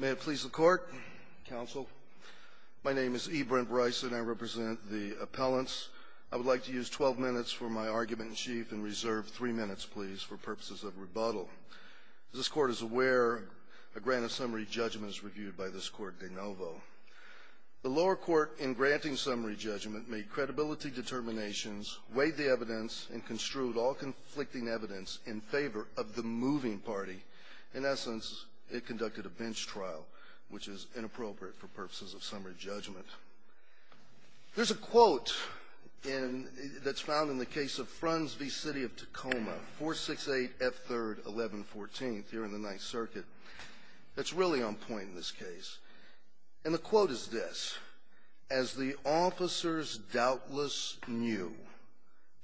May it please the Court, Counsel. My name is E. Brent Bryson. I represent the appellants. I would like to use 12 minutes for my argument in chief and reserve 3 minutes, please, for purposes of rebuttal. As this Court is aware, a grant of summary judgment is reviewed by this Court de novo. The lower court, in granting summary judgment, made credibility determinations, weighed the evidence, and construed all conflicting evidence in favor of the moving party. In essence, it conducted a bench trial, which is inappropriate for purposes of summary judgment. There's a quote that's found in the case of Fruns v. City of Tacoma, 468F3-1114, here in the Ninth Circuit, that's really on point in this case. And the quote is this, As the officers doubtless knew,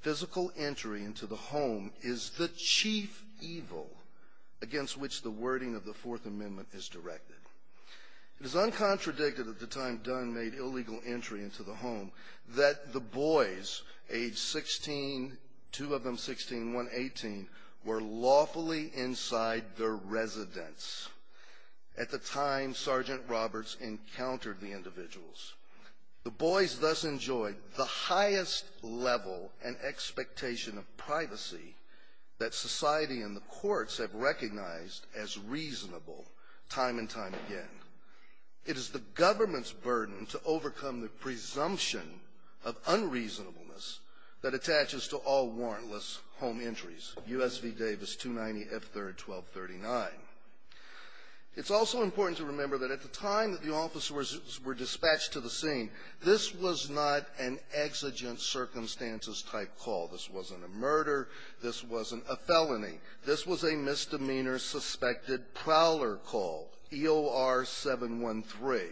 physical entry into the home is the chief evil against which the wording of the Fourth Amendment is directed. It is uncontradicted at the time Dunn made illegal entry into the home that the boys, age 16, two of them 16 and one 18, were lawfully inside their residence at the time Sergeant Roberts encountered the individuals. The boys thus enjoyed the highest level and expectation of privacy that society and the courts have recognized as reasonable time and time again. It is the government's burden to overcome the presumption of unreasonableness that attaches to all warrantless home entries, U.S. v. Davis, 290F3-1239. It's also important to remember that at the time that the officers were dispatched to the scene, this was not an exigent circumstances type call. This wasn't a murder. This wasn't a felony. This was a misdemeanor suspected prowler call, EOR-713.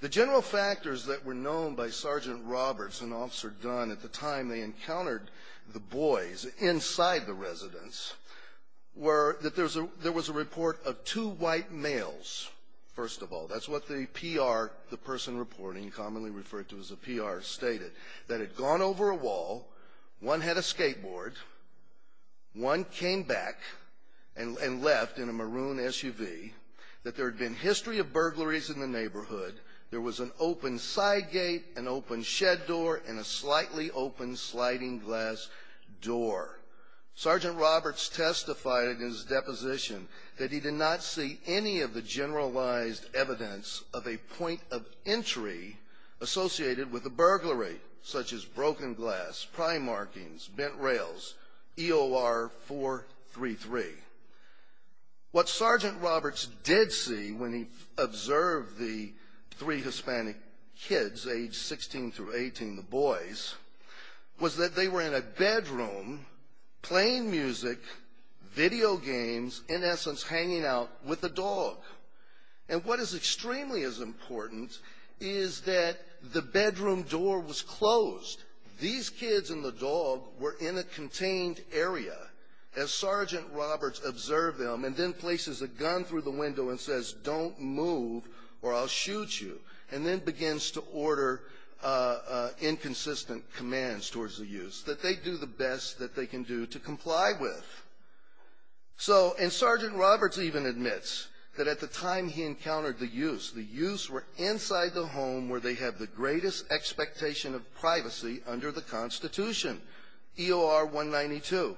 The general factors that were known by Sergeant Roberts and Officer Dunn at the time they encountered the boys inside the residence were that there was a report of two white males, first of all. That's what the PR, the person reporting, commonly referred to as a PR, stated. That had gone over a wall. One had a skateboard. One came back and left in a maroon SUV. That there had been history of burglaries in the neighborhood. There was an open side gate, an open shed door, and a slightly open sliding glass door. Sergeant Roberts testified in his deposition that he did not see any of the generalized evidence of a point of entry associated with a burglary, such as broken glass, pry markings, bent rails, EOR-433. What Sergeant Roberts did see when he observed the three Hispanic kids, aged 16 through 18, the boys, was that they were in a bedroom playing music, video games, in essence hanging out with a dog. And what is extremely as important is that the bedroom door was closed. These kids and the dog were in a contained area, as Sergeant Roberts observed them, and then places a gun through the window and says, don't move or I'll shoot you, and then begins to order inconsistent commands towards the youths, that they do the best that they can do to comply with. And Sergeant Roberts even admits that at the time he encountered the youths, the youths were inside the home where they have the greatest expectation of privacy under the Constitution, EOR-192.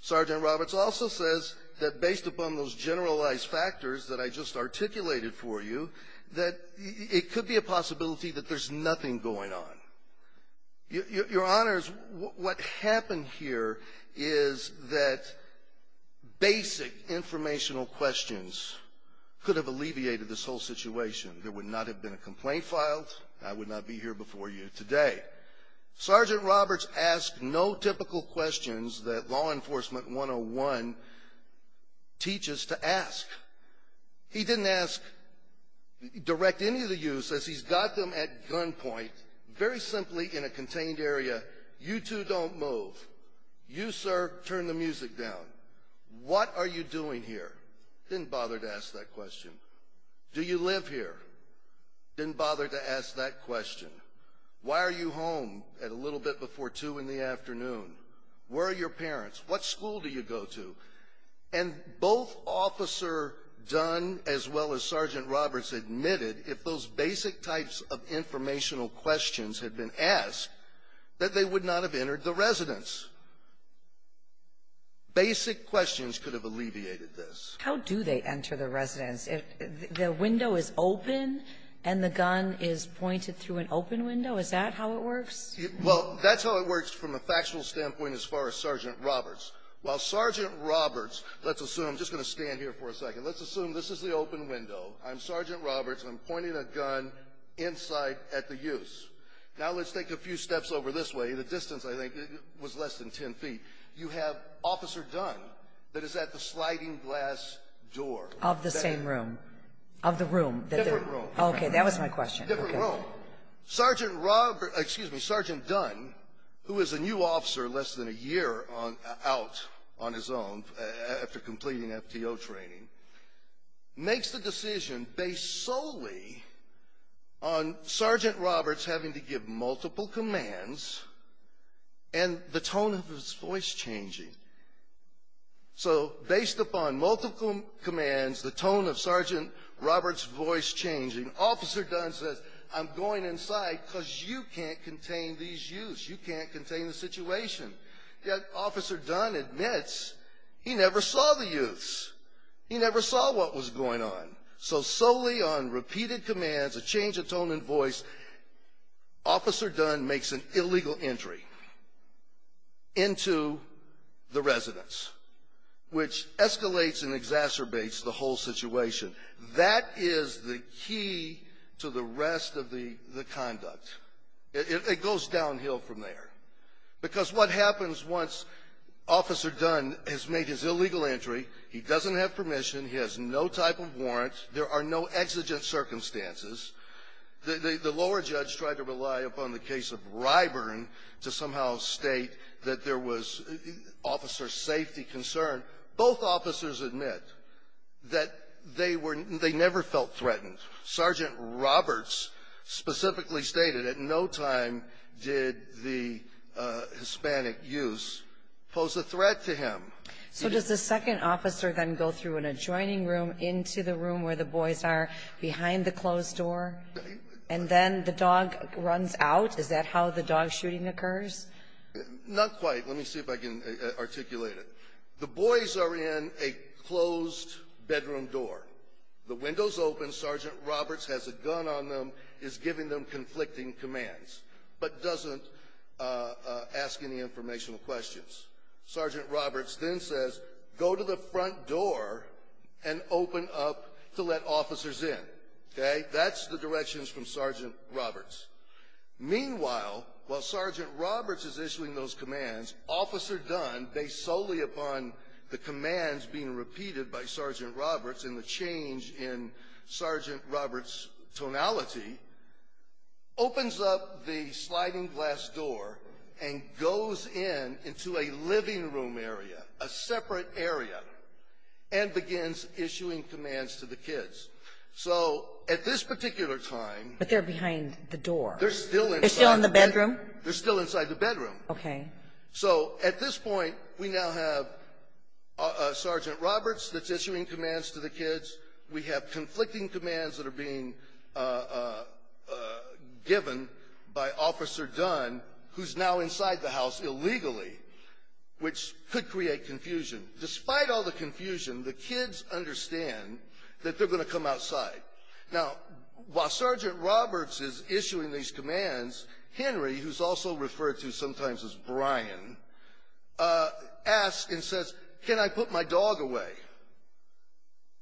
Sergeant Roberts also says that based upon those generalized factors that I just articulated for you, that it could be a possibility that there's nothing going on. Your Honors, what happened here is that basic informational questions could have alleviated this whole situation. There would not have been a complaint filed. I would not be here before you today. Sergeant Roberts asked no typical questions that law enforcement 101 teaches to ask. He didn't direct any of the youths as he's got them at gunpoint, very simply in a contained area. You two don't move. You, sir, turn the music down. What are you doing here? Didn't bother to ask that question. Do you live here? Didn't bother to ask that question. Why are you home at a little bit before 2 in the afternoon? Where are your parents? What school do you go to? And both Officer Dunn as well as Sergeant Roberts admitted, if those basic types of informational questions had been asked, that they would not have entered the residence. Basic questions could have alleviated this. How do they enter the residence? If the window is open and the gun is pointed through an open window, is that how it works? Well, that's how it works from a factual standpoint as far as Sergeant Roberts. While Sergeant Roberts, let's assume, I'm just going to stand here for a second. Let's assume this is the open window. I'm Sergeant Roberts. I'm pointing a gun inside at the youths. Now let's take a few steps over this way. The distance, I think, was less than 10 feet. You have Officer Dunn that is at the sliding glass door. Of the same room. Of the room. Different room. Okay, that was my question. Different room. Now, Sergeant Dunn, who is a new officer less than a year out on his own after completing FTO training, makes the decision based solely on Sergeant Roberts having to give multiple commands and the tone of his voice changing. So based upon multiple commands, the tone of Sergeant Roberts' voice changing, Officer Dunn says, I'm going inside because you can't contain these youths. You can't contain the situation. Yet Officer Dunn admits he never saw the youths. He never saw what was going on. So solely on repeated commands, a change of tone and voice, Officer Dunn makes an illegal entry into the residence, which escalates and exacerbates the whole situation. That is the key to the rest of the conduct. It goes downhill from there. Because what happens once Officer Dunn has made his illegal entry, he doesn't have permission. He has no type of warrant. There are no exigent circumstances. The lower judge tried to rely upon the case of Ryburn to somehow state that there was officer safety concern. Both officers admit that they were they never felt threatened. Sergeant Roberts specifically stated at no time did the Hispanic youths pose a threat to him. So does the second officer then go through an adjoining room into the room where the boys are behind the closed door, and then the dog runs out? Is that how the dog shooting occurs? Not quite. Let me see if I can articulate it. The boys are in a closed bedroom door. The window's open. Sergeant Roberts has a gun on them, is giving them conflicting commands, but doesn't ask any informational questions. Sergeant Roberts then says, go to the front door and open up to let officers in. Okay? That's the directions from Sergeant Roberts. Meanwhile, while Sergeant Roberts is issuing those commands, Officer Dunn, based solely upon the commands being repeated by Sergeant Roberts and the change in Sergeant Roberts' tonality, opens up the sliding glass door and goes in into a living room area, a separate area, and begins issuing commands to the kids. So at this particular time they're still inside the bedroom. Okay. So at this point we now have Sergeant Roberts that's issuing commands to the kids. We have conflicting commands that are being given by Officer Dunn, who's now inside the house illegally, which could create confusion. Despite all the confusion, the kids understand that they're going to come outside. Now, while Sergeant Roberts is issuing these commands, Henry, who's also referred to sometimes as Brian, asks and says, can I put my dog away?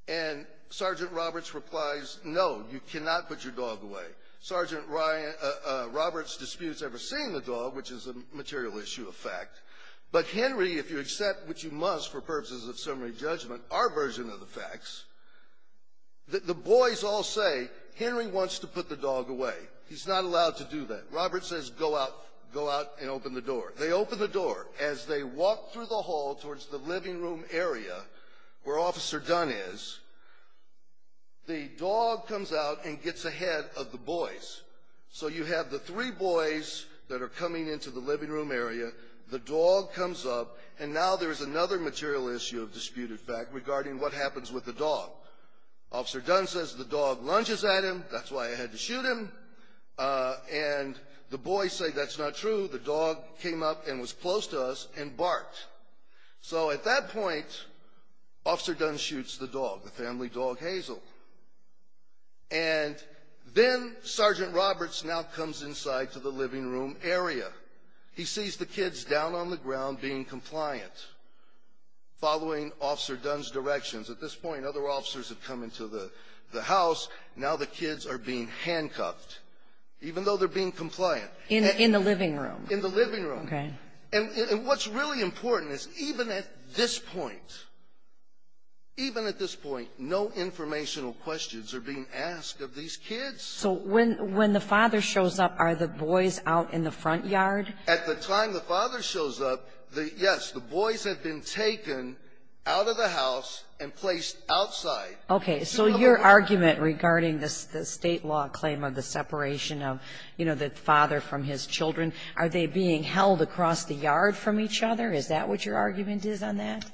And Sergeant Roberts replies, no, you cannot put your dog away. Sergeant Roberts disputes ever seeing the dog, which is a material issue of fact. But Henry, if you accept, which you must for purposes of summary judgment, our version of the facts, the boys all say, Henry wants to put the dog away. He's not allowed to do that. Roberts says go out and open the door. They open the door. As they walk through the hall towards the living room area where Officer Dunn is, the dog comes out and gets ahead of the boys. So you have the three boys that are coming into the living room area. The dog comes up. And now there's another material issue of disputed fact regarding what happens with the dog. Officer Dunn says the dog lunges at him. That's why I had to shoot him. And the boys say that's not true. The dog came up and was close to us and barked. So at that point, Officer Dunn shoots the dog, the family dog, Hazel. And then Sergeant Roberts now comes inside to the living room area. He sees the kids down on the ground being compliant, following Officer Dunn's directions. At this point, other officers have come into the house. Now the kids are being handcuffed, even though they're being compliant. In the living room. In the living room. Okay. And what's really important is even at this point, even at this point, no informational questions are being asked of these kids. So when the father shows up, are the boys out in the front yard? At the time the father shows up, yes, the boys have been taken out of the house and placed outside. Okay. So your argument regarding the State law claim of the separation of, you know, the father from his children, are they being held across the yard from each other? Is that what your argument is on that?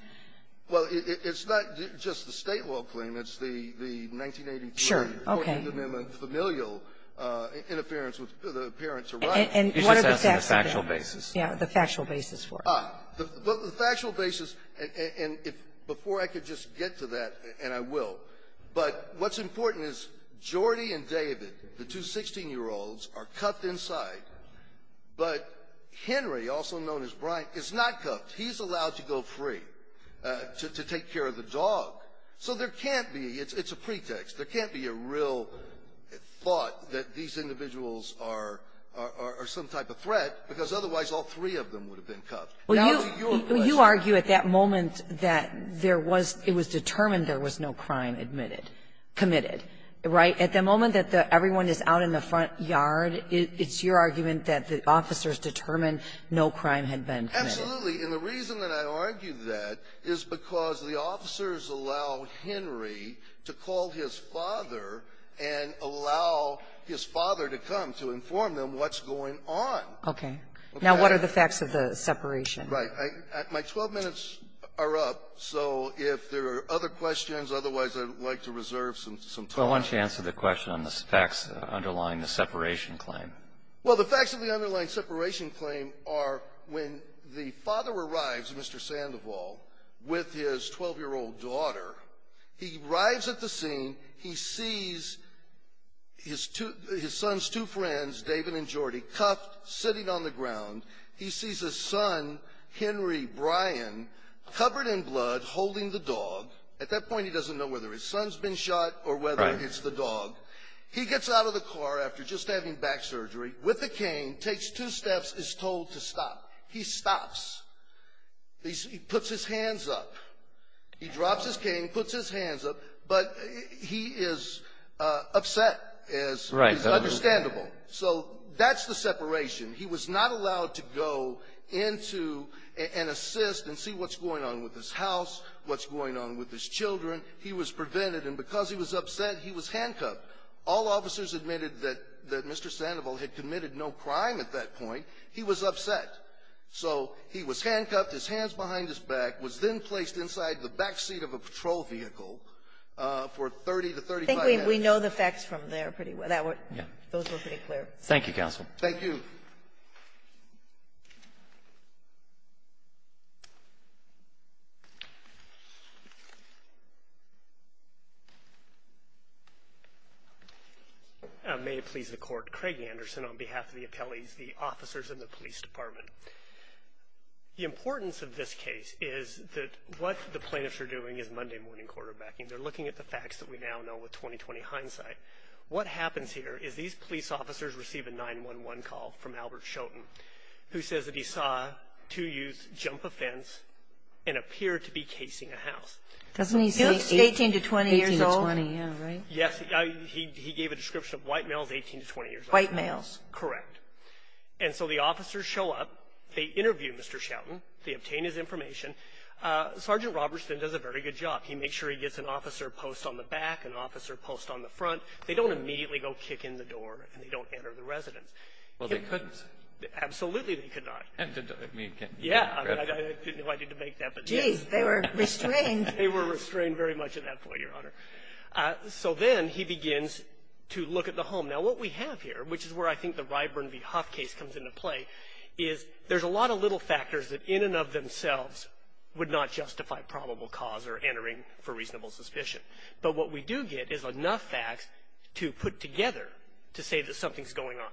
Well, it's not just the State law claim. It's the 1983 14th Amendment familial interference with the parents' rights. And what are the facts of that? You're just asking the factual basis. Yeah, the factual basis for it. Ah, the factual basis, and before I could just get to that, and I will, but what's important is Jordy and David, the two 16-year-olds, are cuffed inside, but Henry, also known as Brian, is not cuffed. He's allowed to go free to take care of the dog. So there can't be, it's a pretext, there can't be a real thought that these individuals are some type of threat, because otherwise all three of them would have been cuffed. Now to your question. Well, you argue at that moment that there was, it was determined there was no crime admitted, committed. Right? At the moment that everyone is out in the front yard, it's your argument that the officers determined no crime had been committed. Absolutely. And the reason that I argue that is because the officers allow Henry to call his father and allow his father to come to inform them what's going on. Okay. Now, what are the facts of the separation? Right. My 12 minutes are up. So if there are other questions, otherwise I'd like to reserve some time. I want you to answer the question on the facts underlying the separation claim. Well, the facts of the underlying separation claim are when the father arrives, Mr. Sandoval, with his 12-year-old daughter. He arrives at the scene. He sees his son's two friends, David and Jordy, cuffed, sitting on the ground. He sees his son, Henry Bryan, covered in blood, holding the dog. At that point, he doesn't know whether his son's been shot or whether it's the dog. He gets out of the car after just having back surgery with a cane, takes two steps, is told to stop. He stops. He puts his hands up. He drops his cane, puts his hands up, but he is upset, as is understandable. So that's the separation. He was not allowed to go into and assist and see what's going on with his house, what's going on with his children. He was prevented, and because he was upset, he was handcuffed. All officers admitted that Mr. Sandoval had committed no crime at that point. He was upset. So he was handcuffed, his hands behind his back, was then placed inside the backseat of a patrol vehicle for 30 to 35 minutes. I think we know the facts from there pretty well. Yeah. Those were pretty clear. Thank you, counsel. Thank you. May it please the Court. My name is Craig Anderson on behalf of the appellees, the officers in the police department. The importance of this case is that what the plaintiffs are doing is Monday-morning quarterbacking. They're looking at the facts that we now know with 20-20 hindsight. What happens here is these police officers receive a 911 call from Albert Schoten, who says that he saw two youths jump a fence and appear to be casing a house. Doesn't he say 18 to 20 years old? 18 to 20, yeah, right? Yes. He gave a description of white males, 18 to 20 years old. White males. Correct. And so the officers show up. They interview Mr. Schoten. They obtain his information. Sergeant Robertson does a very good job. He makes sure he gets an officer post on the back, an officer post on the front. They don't immediately go kick in the door, and they don't enter the residence. Well, they couldn't. Absolutely they could not. And didn't they? Yeah. I mean, I didn't know I needed to make that, but yes. Geez. They were restrained. They were restrained very much at that point, Your Honor. So then he begins to look at the home. Now, what we have here, which is where I think the Ryburn v. Huff case comes into play, is there's a lot of little factors that in and of themselves would not justify probable cause or entering for reasonable suspicion. But what we do get is enough facts to put together to say that something's going on.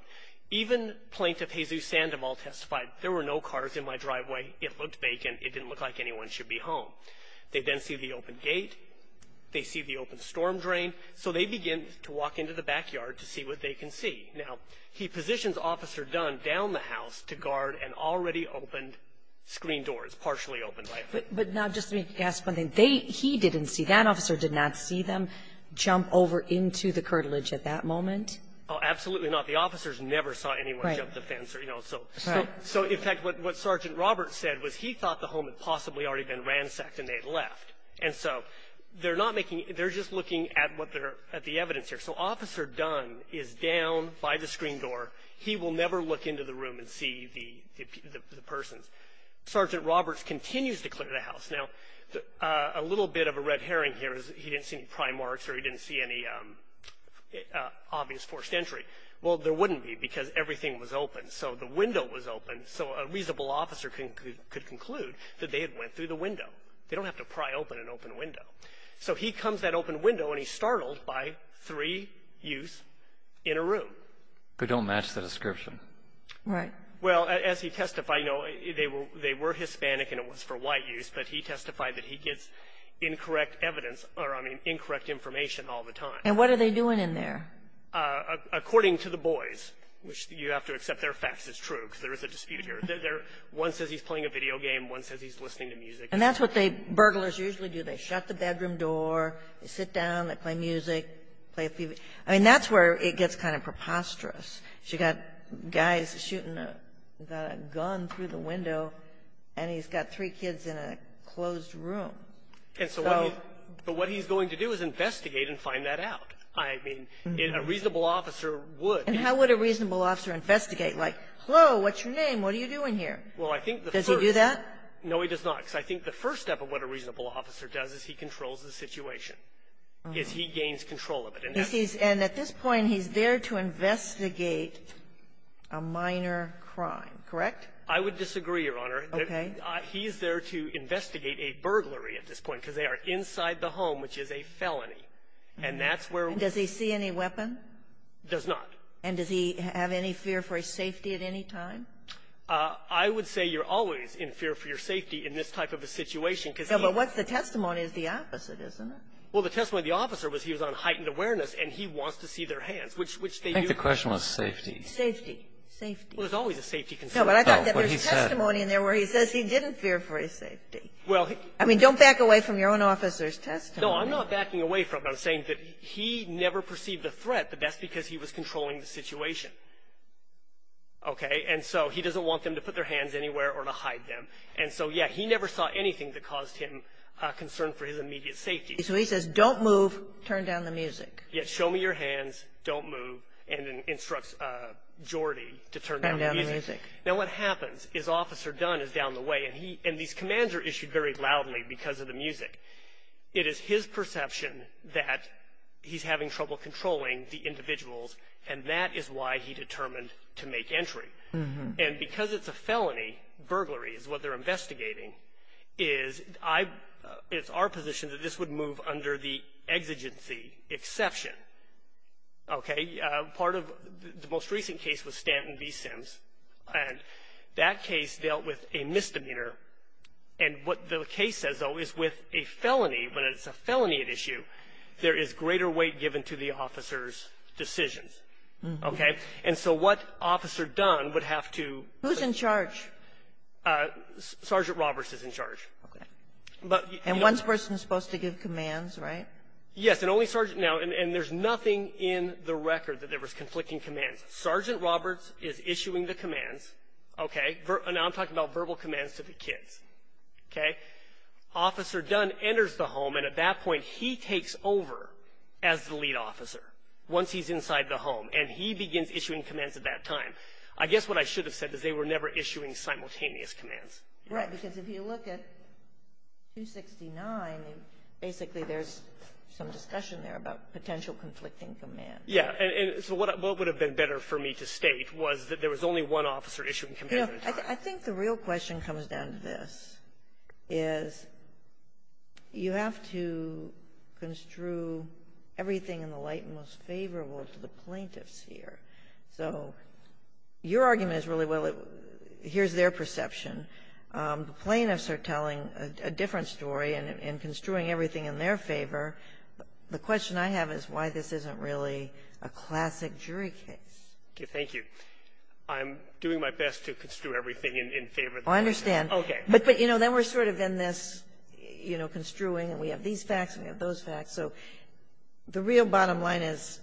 Even Plaintiff Jesus Sandoval testified, there were no cars in my driveway. It looked vacant. It didn't look like anyone should be home. They then see the open gate. They see the open storm drain. So they begin to walk into the backyard to see what they can see. Now, he positions Officer Dunn down the house to guard an already opened screen door. It's partially opened, right? But now, just let me ask one thing. He didn't see that. Officer did not see them jump over into the curtilage at that moment? Oh, absolutely not. The officers never saw anyone jump the fence. Right. So, in fact, what Sergeant Roberts said was he thought the home had possibly already been ransacked, and they had left. And so they're not making – they're just looking at what they're – at the evidence here. So Officer Dunn is down by the screen door. He will never look into the room and see the persons. Sergeant Roberts continues to clear the house. Now, a little bit of a red herring here is he didn't see any pry marks or he didn't see any obvious forced entry. Well, there wouldn't be because everything was open. So the window was open. So a reasonable officer could conclude that they had went through the window. They don't have to pry open an open window. So he comes that open window, and he's startled by three youths in a room. They don't match the description. Right. Well, as he testified, you know, they were Hispanic and it was for white youths, but he testified that he gets incorrect evidence or, I mean, incorrect information all the time. And what are they doing in there? According to the boys, which you have to accept they're facts. It's true because there is a dispute here. One says he's playing a video game. One says he's listening to music. And that's what they, burglars usually do. They shut the bedroom door. They sit down. They play music, play a few. I mean, that's where it gets kind of preposterous. You've got guys shooting a gun through the window, and he's got three kids in a closed room. And so what he's going to do is investigate and find that out. I mean, a reasonable officer would. And how would a reasonable officer investigate? Like, hello, what's your name? What are you doing here? Well, I think the first. Does he do that? No, he does not. Because I think the first step of what a reasonable officer does is he controls the situation, is he gains control of it. And at this point, he's there to investigate a minor crime, correct? I would disagree, Your Honor. Okay. He's there to investigate a burglary at this point, because they are inside the home, which is a felony. And that's where we're going. Does he see any weapon? Does not. And does he have any fear for his safety at any time? I would say you're always in fear for your safety in this type of a situation because he. No, but what's the testimony is the opposite, isn't it? Well, the testimony of the officer was he was on heightened awareness, and he wants to see their hands, which they do. I think the question was safety. Safety. Safety. Well, there's always a safety concern. No, but I thought that there's testimony in there where he says he didn't fear for his safety. Well, he. I mean, don't back away from your own officer's testimony. No, I'm not backing away from it. I'm saying that he never perceived a threat, but that's because he was controlling the situation. Okay. And so he doesn't want them to put their hands anywhere or to hide them. And so, yeah, he never saw anything that caused him concern for his immediate safety. So he says, don't move, turn down the music. Yeah, show me your hands, don't move, and instructs Geordie to turn down the music. Turn down the music. Now, what happens is Officer Dunn is down the way, and these commands are issued very loudly because of the music. It is his perception that he's having trouble controlling the individuals, and that is why he determined to make entry. And because it's a felony, burglary is what they're investigating, is I – it's our position that this would move under the exigency exception. Okay. Part of the most recent case was Stanton v. Sims, and that case dealt with a misdemeanor. And what the case says, though, is with a felony, when it's a felony at issue, there is greater weight given to the officer's decisions. Okay? And so what Officer Dunn would have to – Who's in charge? Sergeant Roberts is in charge. Okay. But – And one person is supposed to give commands, right? Yes, and only Sergeant – now, and there's nothing in the record that there was conflicting commands. Sergeant Roberts is issuing the commands. Okay? Now I'm talking about verbal commands to the kids. Okay? Officer Dunn enters the home, and at that point, he takes over as the lead officer. Once he's inside the home, and he begins issuing commands at that time. I guess what I should have said is they were never issuing simultaneous commands. Right. Because if you look at 269, basically there's some discussion there about potential conflicting commands. Yeah. And so what would have been better for me to state was that there was only one officer issuing commands at a time. I think the real question comes down to this, is you have to construe everything in the light most favorable to the plaintiffs here. So your argument is really, well, here's their perception. The plaintiffs are telling a different story and construing everything in their favor. The question I have is why this isn't really a classic jury case. Okay. Thank you. I'm doing my best to construe everything in favor of the plaintiffs. I understand. Okay. But, you know, then we're sort of in this, you know, construing, and we have these facts and we have those facts. So the real bottom line is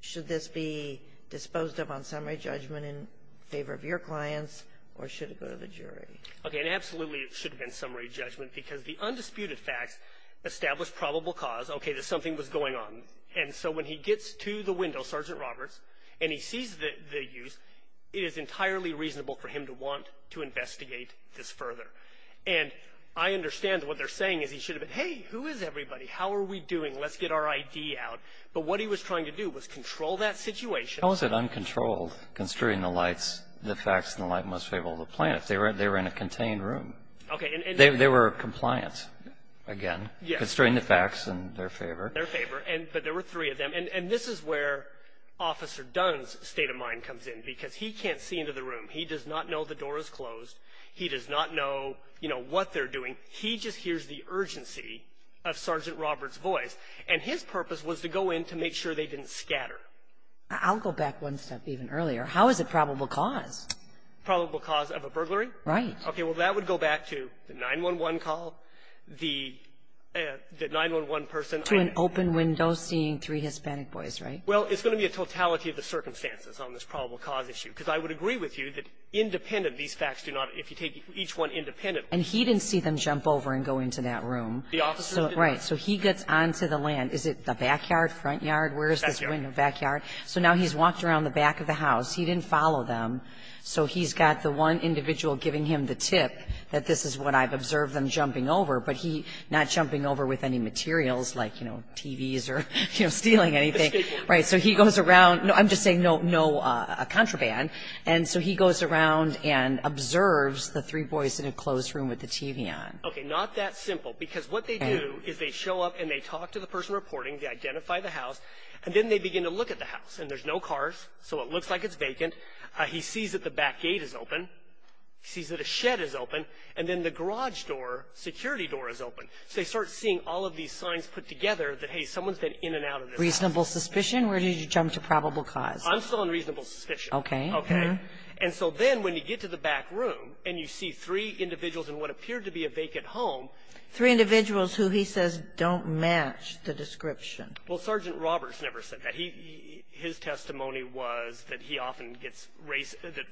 should this be disposed of on summary judgment in favor of your clients, or should it go to the jury? Okay. And absolutely it should have been summary judgment because the undisputed facts establish probable cause, okay, that something was going on. And so when he gets to the window, Sergeant Roberts, and he sees the use, it is entirely reasonable for him to want to investigate this further. And I understand what they're saying is he should have been, hey, who is everybody? How are we doing? Let's get our I.D. out. But what he was trying to do was control that situation. How is it uncontrolled, construing the lights, the facts and the light in the most favorable of the plaintiffs? They were in a contained room. Okay. They were compliant, again. Yes. Construing the facts in their favor. In their favor. But there were three of them. And this is where Officer Dunn's state of mind comes in because he can't see into the room. He does not know the door is closed. He does not know, you know, what they're doing. He just hears the urgency of Sergeant Roberts' voice. And his purpose was to go in to make sure they didn't scatter. I'll go back one step even earlier. How is it probable cause? Probable cause of a burglary? Right. Okay. Well, that would go back to the 911 call, the 911 person. To an open window seeing three Hispanic boys, right? Well, it's going to be a totality of the circumstances on this probable cause issue. Because I would agree with you that independent, these facts do not, if you take each one independent. And he didn't see them jump over and go into that room. The officers didn't. Right. So he gets on to the land. Is it the backyard, front yard? Backyard. Where is this window? Backyard. So now he's walked around the back of the house. He didn't follow them. So he's got the one individual giving him the tip that this is what I've observed them jumping over, but he's not jumping over with any materials like, you know, TVs or, you know, stealing anything. So he goes around. I'm just saying no contraband. And so he goes around and observes the three boys in a closed room with the TV on. Okay. Not that simple. Because what they do is they show up and they talk to the person reporting. They identify the house. And then they begin to look at the house. And there's no cars, so it looks like it's vacant. He sees that the back gate is open. He sees that a shed is open. And then the garage door, security door, is open. So they start seeing all of these signs put together that, hey, someone's been in and out of this house. Reasonable suspicion? Where did you jump to probable cause? I'm still on reasonable suspicion. Okay. And so then when you get to the back room and you see three individuals in what appeared to be a vacant home. Three individuals who he says don't match the description. Well, Sergeant Roberts never said that. His testimony was that he often gets race or that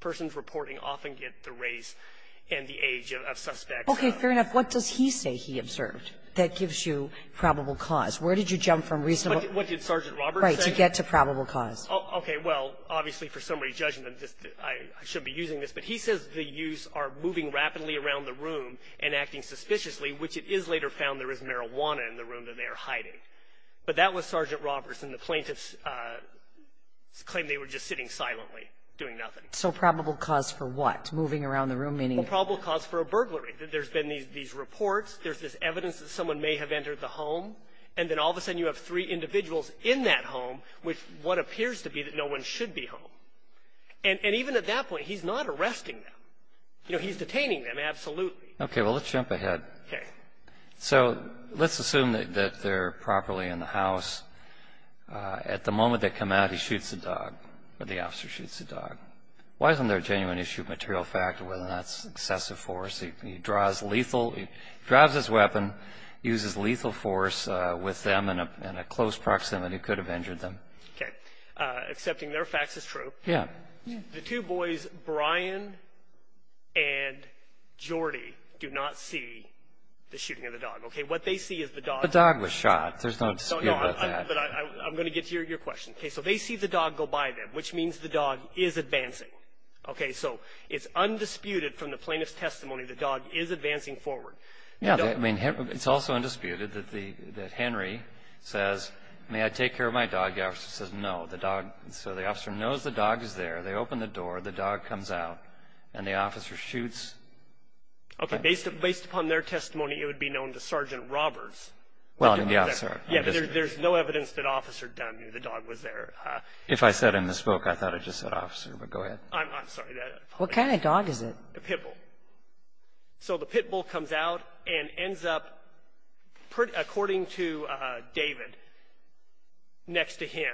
persons reporting often get the race and the age of suspects. Okay. Fair enough. What does he say he observed that gives you probable cause? Where did you jump from reasonable? What did Sergeant Roberts say? To get to probable cause. Okay. Well, obviously for somebody judging them, I shouldn't be using this. But he says the youths are moving rapidly around the room and acting suspiciously, which it is later found there is marijuana in the room that they are hiding. But that was Sergeant Roberts, and the plaintiffs claimed they were just sitting silently, doing nothing. So probable cause for what? Moving around the room, meaning? Probable cause for a burglary. There's been these reports. There's this evidence that someone may have entered the home. And then all of a sudden you have three individuals in that home with what appears to be that no one should be home. And even at that point, he's not arresting them. You know, he's detaining them, absolutely. Okay. Well, let's jump ahead. Okay. So let's assume that they're properly in the house. At the moment they come out, he shoots the dog, or the officer shoots the dog. Why isn't there a genuine issue of material fact of whether or not it's excessive force? Because he draws lethal, he draws his weapon, uses lethal force with them in a close proximity, could have injured them. Okay. Accepting their facts is true. Yeah. The two boys, Brian and Jordy, do not see the shooting of the dog. Okay. What they see is the dog. The dog was shot. There's no dispute about that. No, but I'm going to get to your question. Okay. So they see the dog go by them, which means the dog is advancing. Okay. So it's undisputed from the plaintiff's testimony the dog is advancing forward. Yeah. I mean, it's also undisputed that Henry says, may I take care of my dog? The officer says no. So the officer knows the dog is there. They open the door. The dog comes out, and the officer shoots. Okay. Based upon their testimony, it would be known to Sergeant Roberts. Well, I mean, the officer. Yeah, but there's no evidence that officer knew the dog was there. If I said in the spoke, I thought I just said officer, but go ahead. I'm sorry. What kind of dog is it? A pit bull. So the pit bull comes out and ends up, according to David, next to him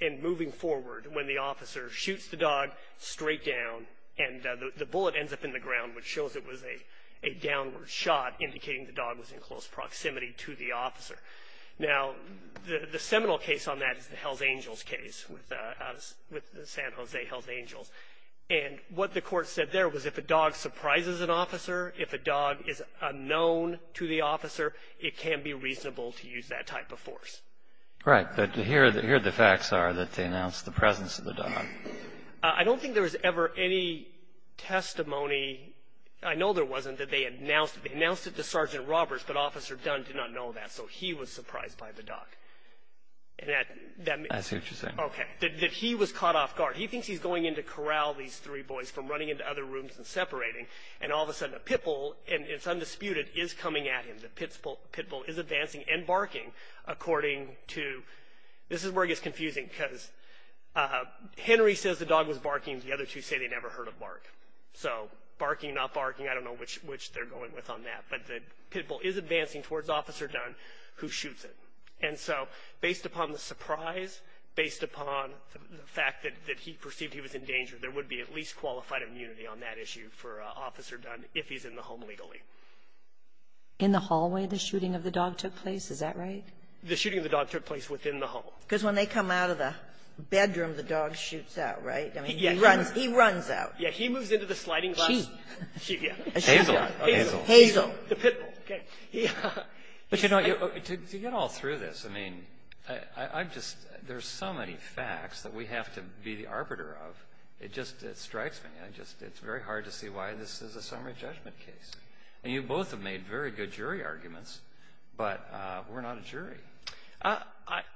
and moving forward when the officer shoots the dog straight down, and the bullet ends up in the ground, which shows it was a downward shot indicating the dog was in close proximity to the officer. Now, the seminal case on that is the Hells Angels case with San Jose Hells Angels. And what the court said there was if a dog surprises an officer, if a dog is unknown to the officer, it can be reasonable to use that type of force. Right. But here the facts are that they announced the presence of the dog. I don't think there was ever any testimony. I know there wasn't, that they announced it to Sergeant Roberts, but Officer Dunn did not know that. So he was surprised by the dog. That's interesting. Okay. That he was caught off guard. He thinks he's going in to corral these three boys from running into other rooms and separating, and all of a sudden a pit bull, and it's undisputed, is coming at him. The pit bull is advancing and barking, according to, this is where it gets confusing, because Henry says the dog was barking. The other two say they never heard a bark. So barking, not barking, I don't know which they're going with on that. But the pit bull is advancing towards Officer Dunn, who shoots it. And so based upon the surprise, based upon the fact that he perceived he was in danger, there would be at least qualified immunity on that issue for Officer Dunn if he's in the home legally. In the hallway, the shooting of the dog took place. Is that right? The shooting of the dog took place within the home. Because when they come out of the bedroom, the dog shoots out, right? I mean, he runs out. Yeah. He moves into the sliding glass. Sheep. Sheep, yeah. Hazel. Hazel. Hazel. The pit bull, okay. But, you know, to get all through this, I mean, I'm just, there's so many facts that we have to be the arbiter of. It just, it strikes me. I just, it's very hard to see why this is a summary judgment case. And you both have made very good jury arguments, but we're not a jury.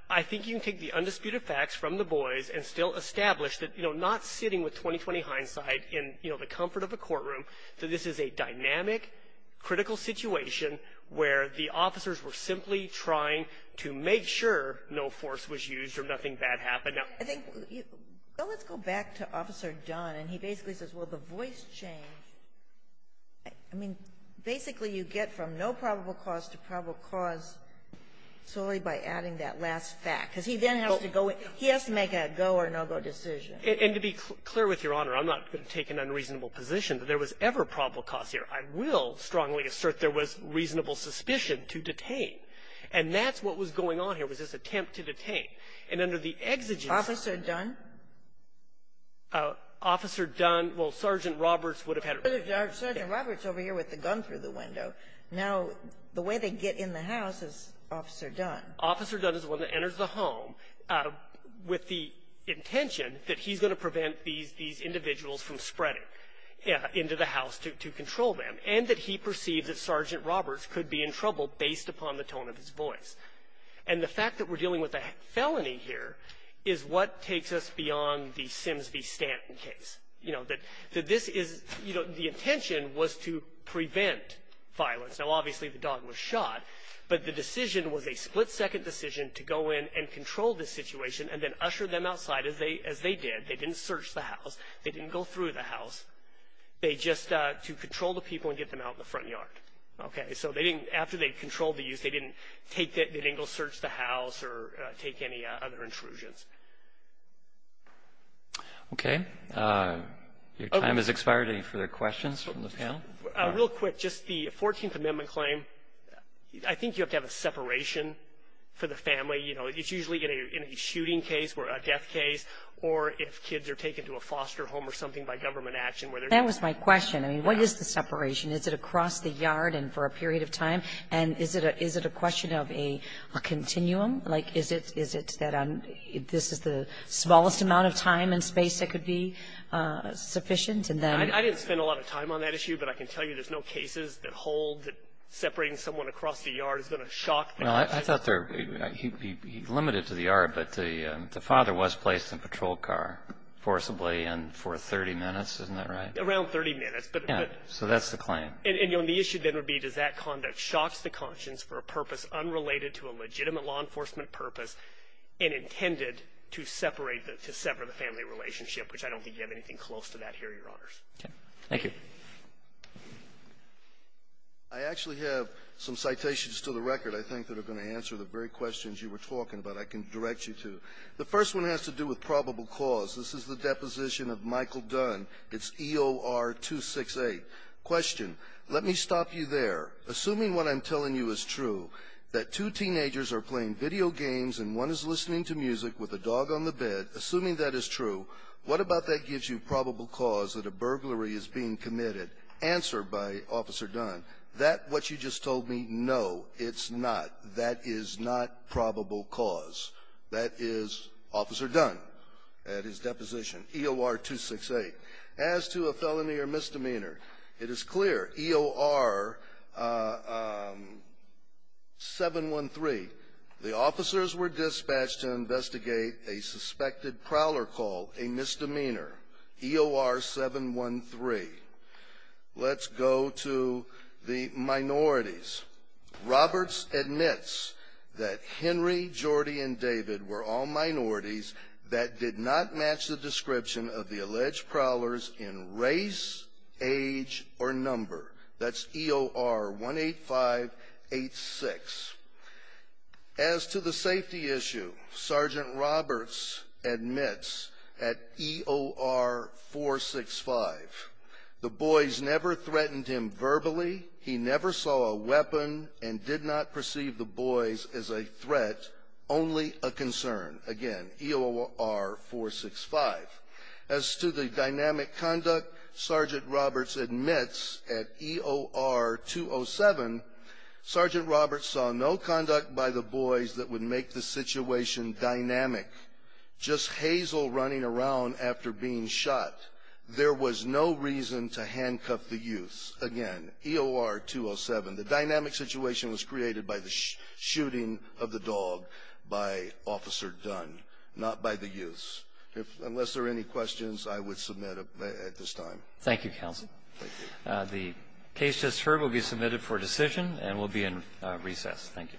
I think you can take the undisputed facts from the boys and still establish that, you know, I'm not sitting with 20-20 hindsight in, you know, the comfort of a courtroom, that this is a dynamic, critical situation where the officers were simply trying to make sure no force was used or nothing bad happened. I think, let's go back to Officer Dunn. And he basically says, well, the voice change, I mean, basically you get from no probable cause to probable cause solely by adding that last fact. Because he then has to go, he has to make a go or no-go decision. And to be clear with Your Honor, I'm not going to take an unreasonable position that there was ever probable cause here. I will strongly assert there was reasonable suspicion to detain. And that's what was going on here, was this attempt to detain. And under the exegesis of the ---- Officer Dunn? Officer Dunn, well, Sergeant Roberts would have had ---- Sergeant Roberts over here with the gun through the window. Now, the way they get in the house is Officer Dunn. Officer Dunn is the one that enters the home with the intention that he's going to prevent these individuals from spreading into the house to control them. And that he perceived that Sergeant Roberts could be in trouble based upon the tone of his voice. And the fact that we're dealing with a felony here is what takes us beyond the Sims v. Stanton case. You know, that this is, you know, the intention was to prevent violence. Now, obviously the dog was shot. But the decision was a split-second decision to go in and control the situation and then usher them outside, as they did. They didn't search the house. They didn't go through the house. They just ---- to control the people and get them out in the front yard. Okay? So they didn't ---- after they controlled the youth, they didn't take the ---- they didn't go search the house or take any other intrusions. Okay. Your time has expired. Any further questions from the panel? Real quick, just the 14th Amendment claim, I think you have to have a separation for the family. You know, it's usually in a shooting case or a death case, or if kids are taken to a foster home or something by government action where they're ---- That was my question. I mean, what is the separation? Is it across the yard and for a period of time? And is it a question of a continuum? Like, is it that this is the smallest amount of time and space that could be sufficient, and then ---- I didn't spend a lot of time on that issue, but I can tell you there's no cases that hold that separating someone across the yard is going to shock the ---- Well, I thought there ---- he limited to the yard, but the father was placed in a patrol car forcibly and for 30 minutes. Isn't that right? Around 30 minutes, but ---- Yeah. So that's the claim. And the issue then would be does that conduct shocks the conscience for a purpose unrelated to a legitimate law enforcement purpose and intended to separate the ---- to sever the family relationship, which I don't think you have anything close to that here, Your Honors. Okay. Thank you. I actually have some citations to the record, I think, that are going to answer the very questions you were talking about I can direct you to. The first one has to do with probable cause. This is the deposition of Michael Dunn. It's EOR 268. Question. Let me stop you there. Assuming what I'm telling you is true, that two teenagers are playing video games and one is listening to music with a dog on the bed, assuming that is true, what about that gives you probable cause that a burglary is being committed? Answer by Officer Dunn, that what you just told me, no, it's not. That is not probable cause. That is Officer Dunn at his deposition, EOR 268. As to a felony or misdemeanor, it is clear, EOR 713, the officers were dispatched to investigate a suspected prowler call, a misdemeanor, EOR 713. Let's go to the minorities. Roberts admits that Henry, Jordie, and David were all minorities that did not match the description of the alleged prowlers in race, age, or number. That's EOR 18586. As to the safety issue, Sergeant Roberts admits at EOR 465, the boys never threatened him verbally. He never saw a weapon and did not perceive the boys as a threat, only a concern. Again, EOR 465. As to the dynamic conduct, Sergeant Roberts admits at EOR 207, Sergeant Roberts saw no conduct by the boys that would make the situation dynamic. Just Hazel running around after being shot, there was no reason to handcuff the youths. Again, EOR 207. The dynamic situation was created by the shooting of the dog by Officer Dunn, not by the youths. Unless there are any questions, I would submit at this time. Thank you, counsel. Thank you. The case just heard will be submitted for decision and will be in recess. Thank you.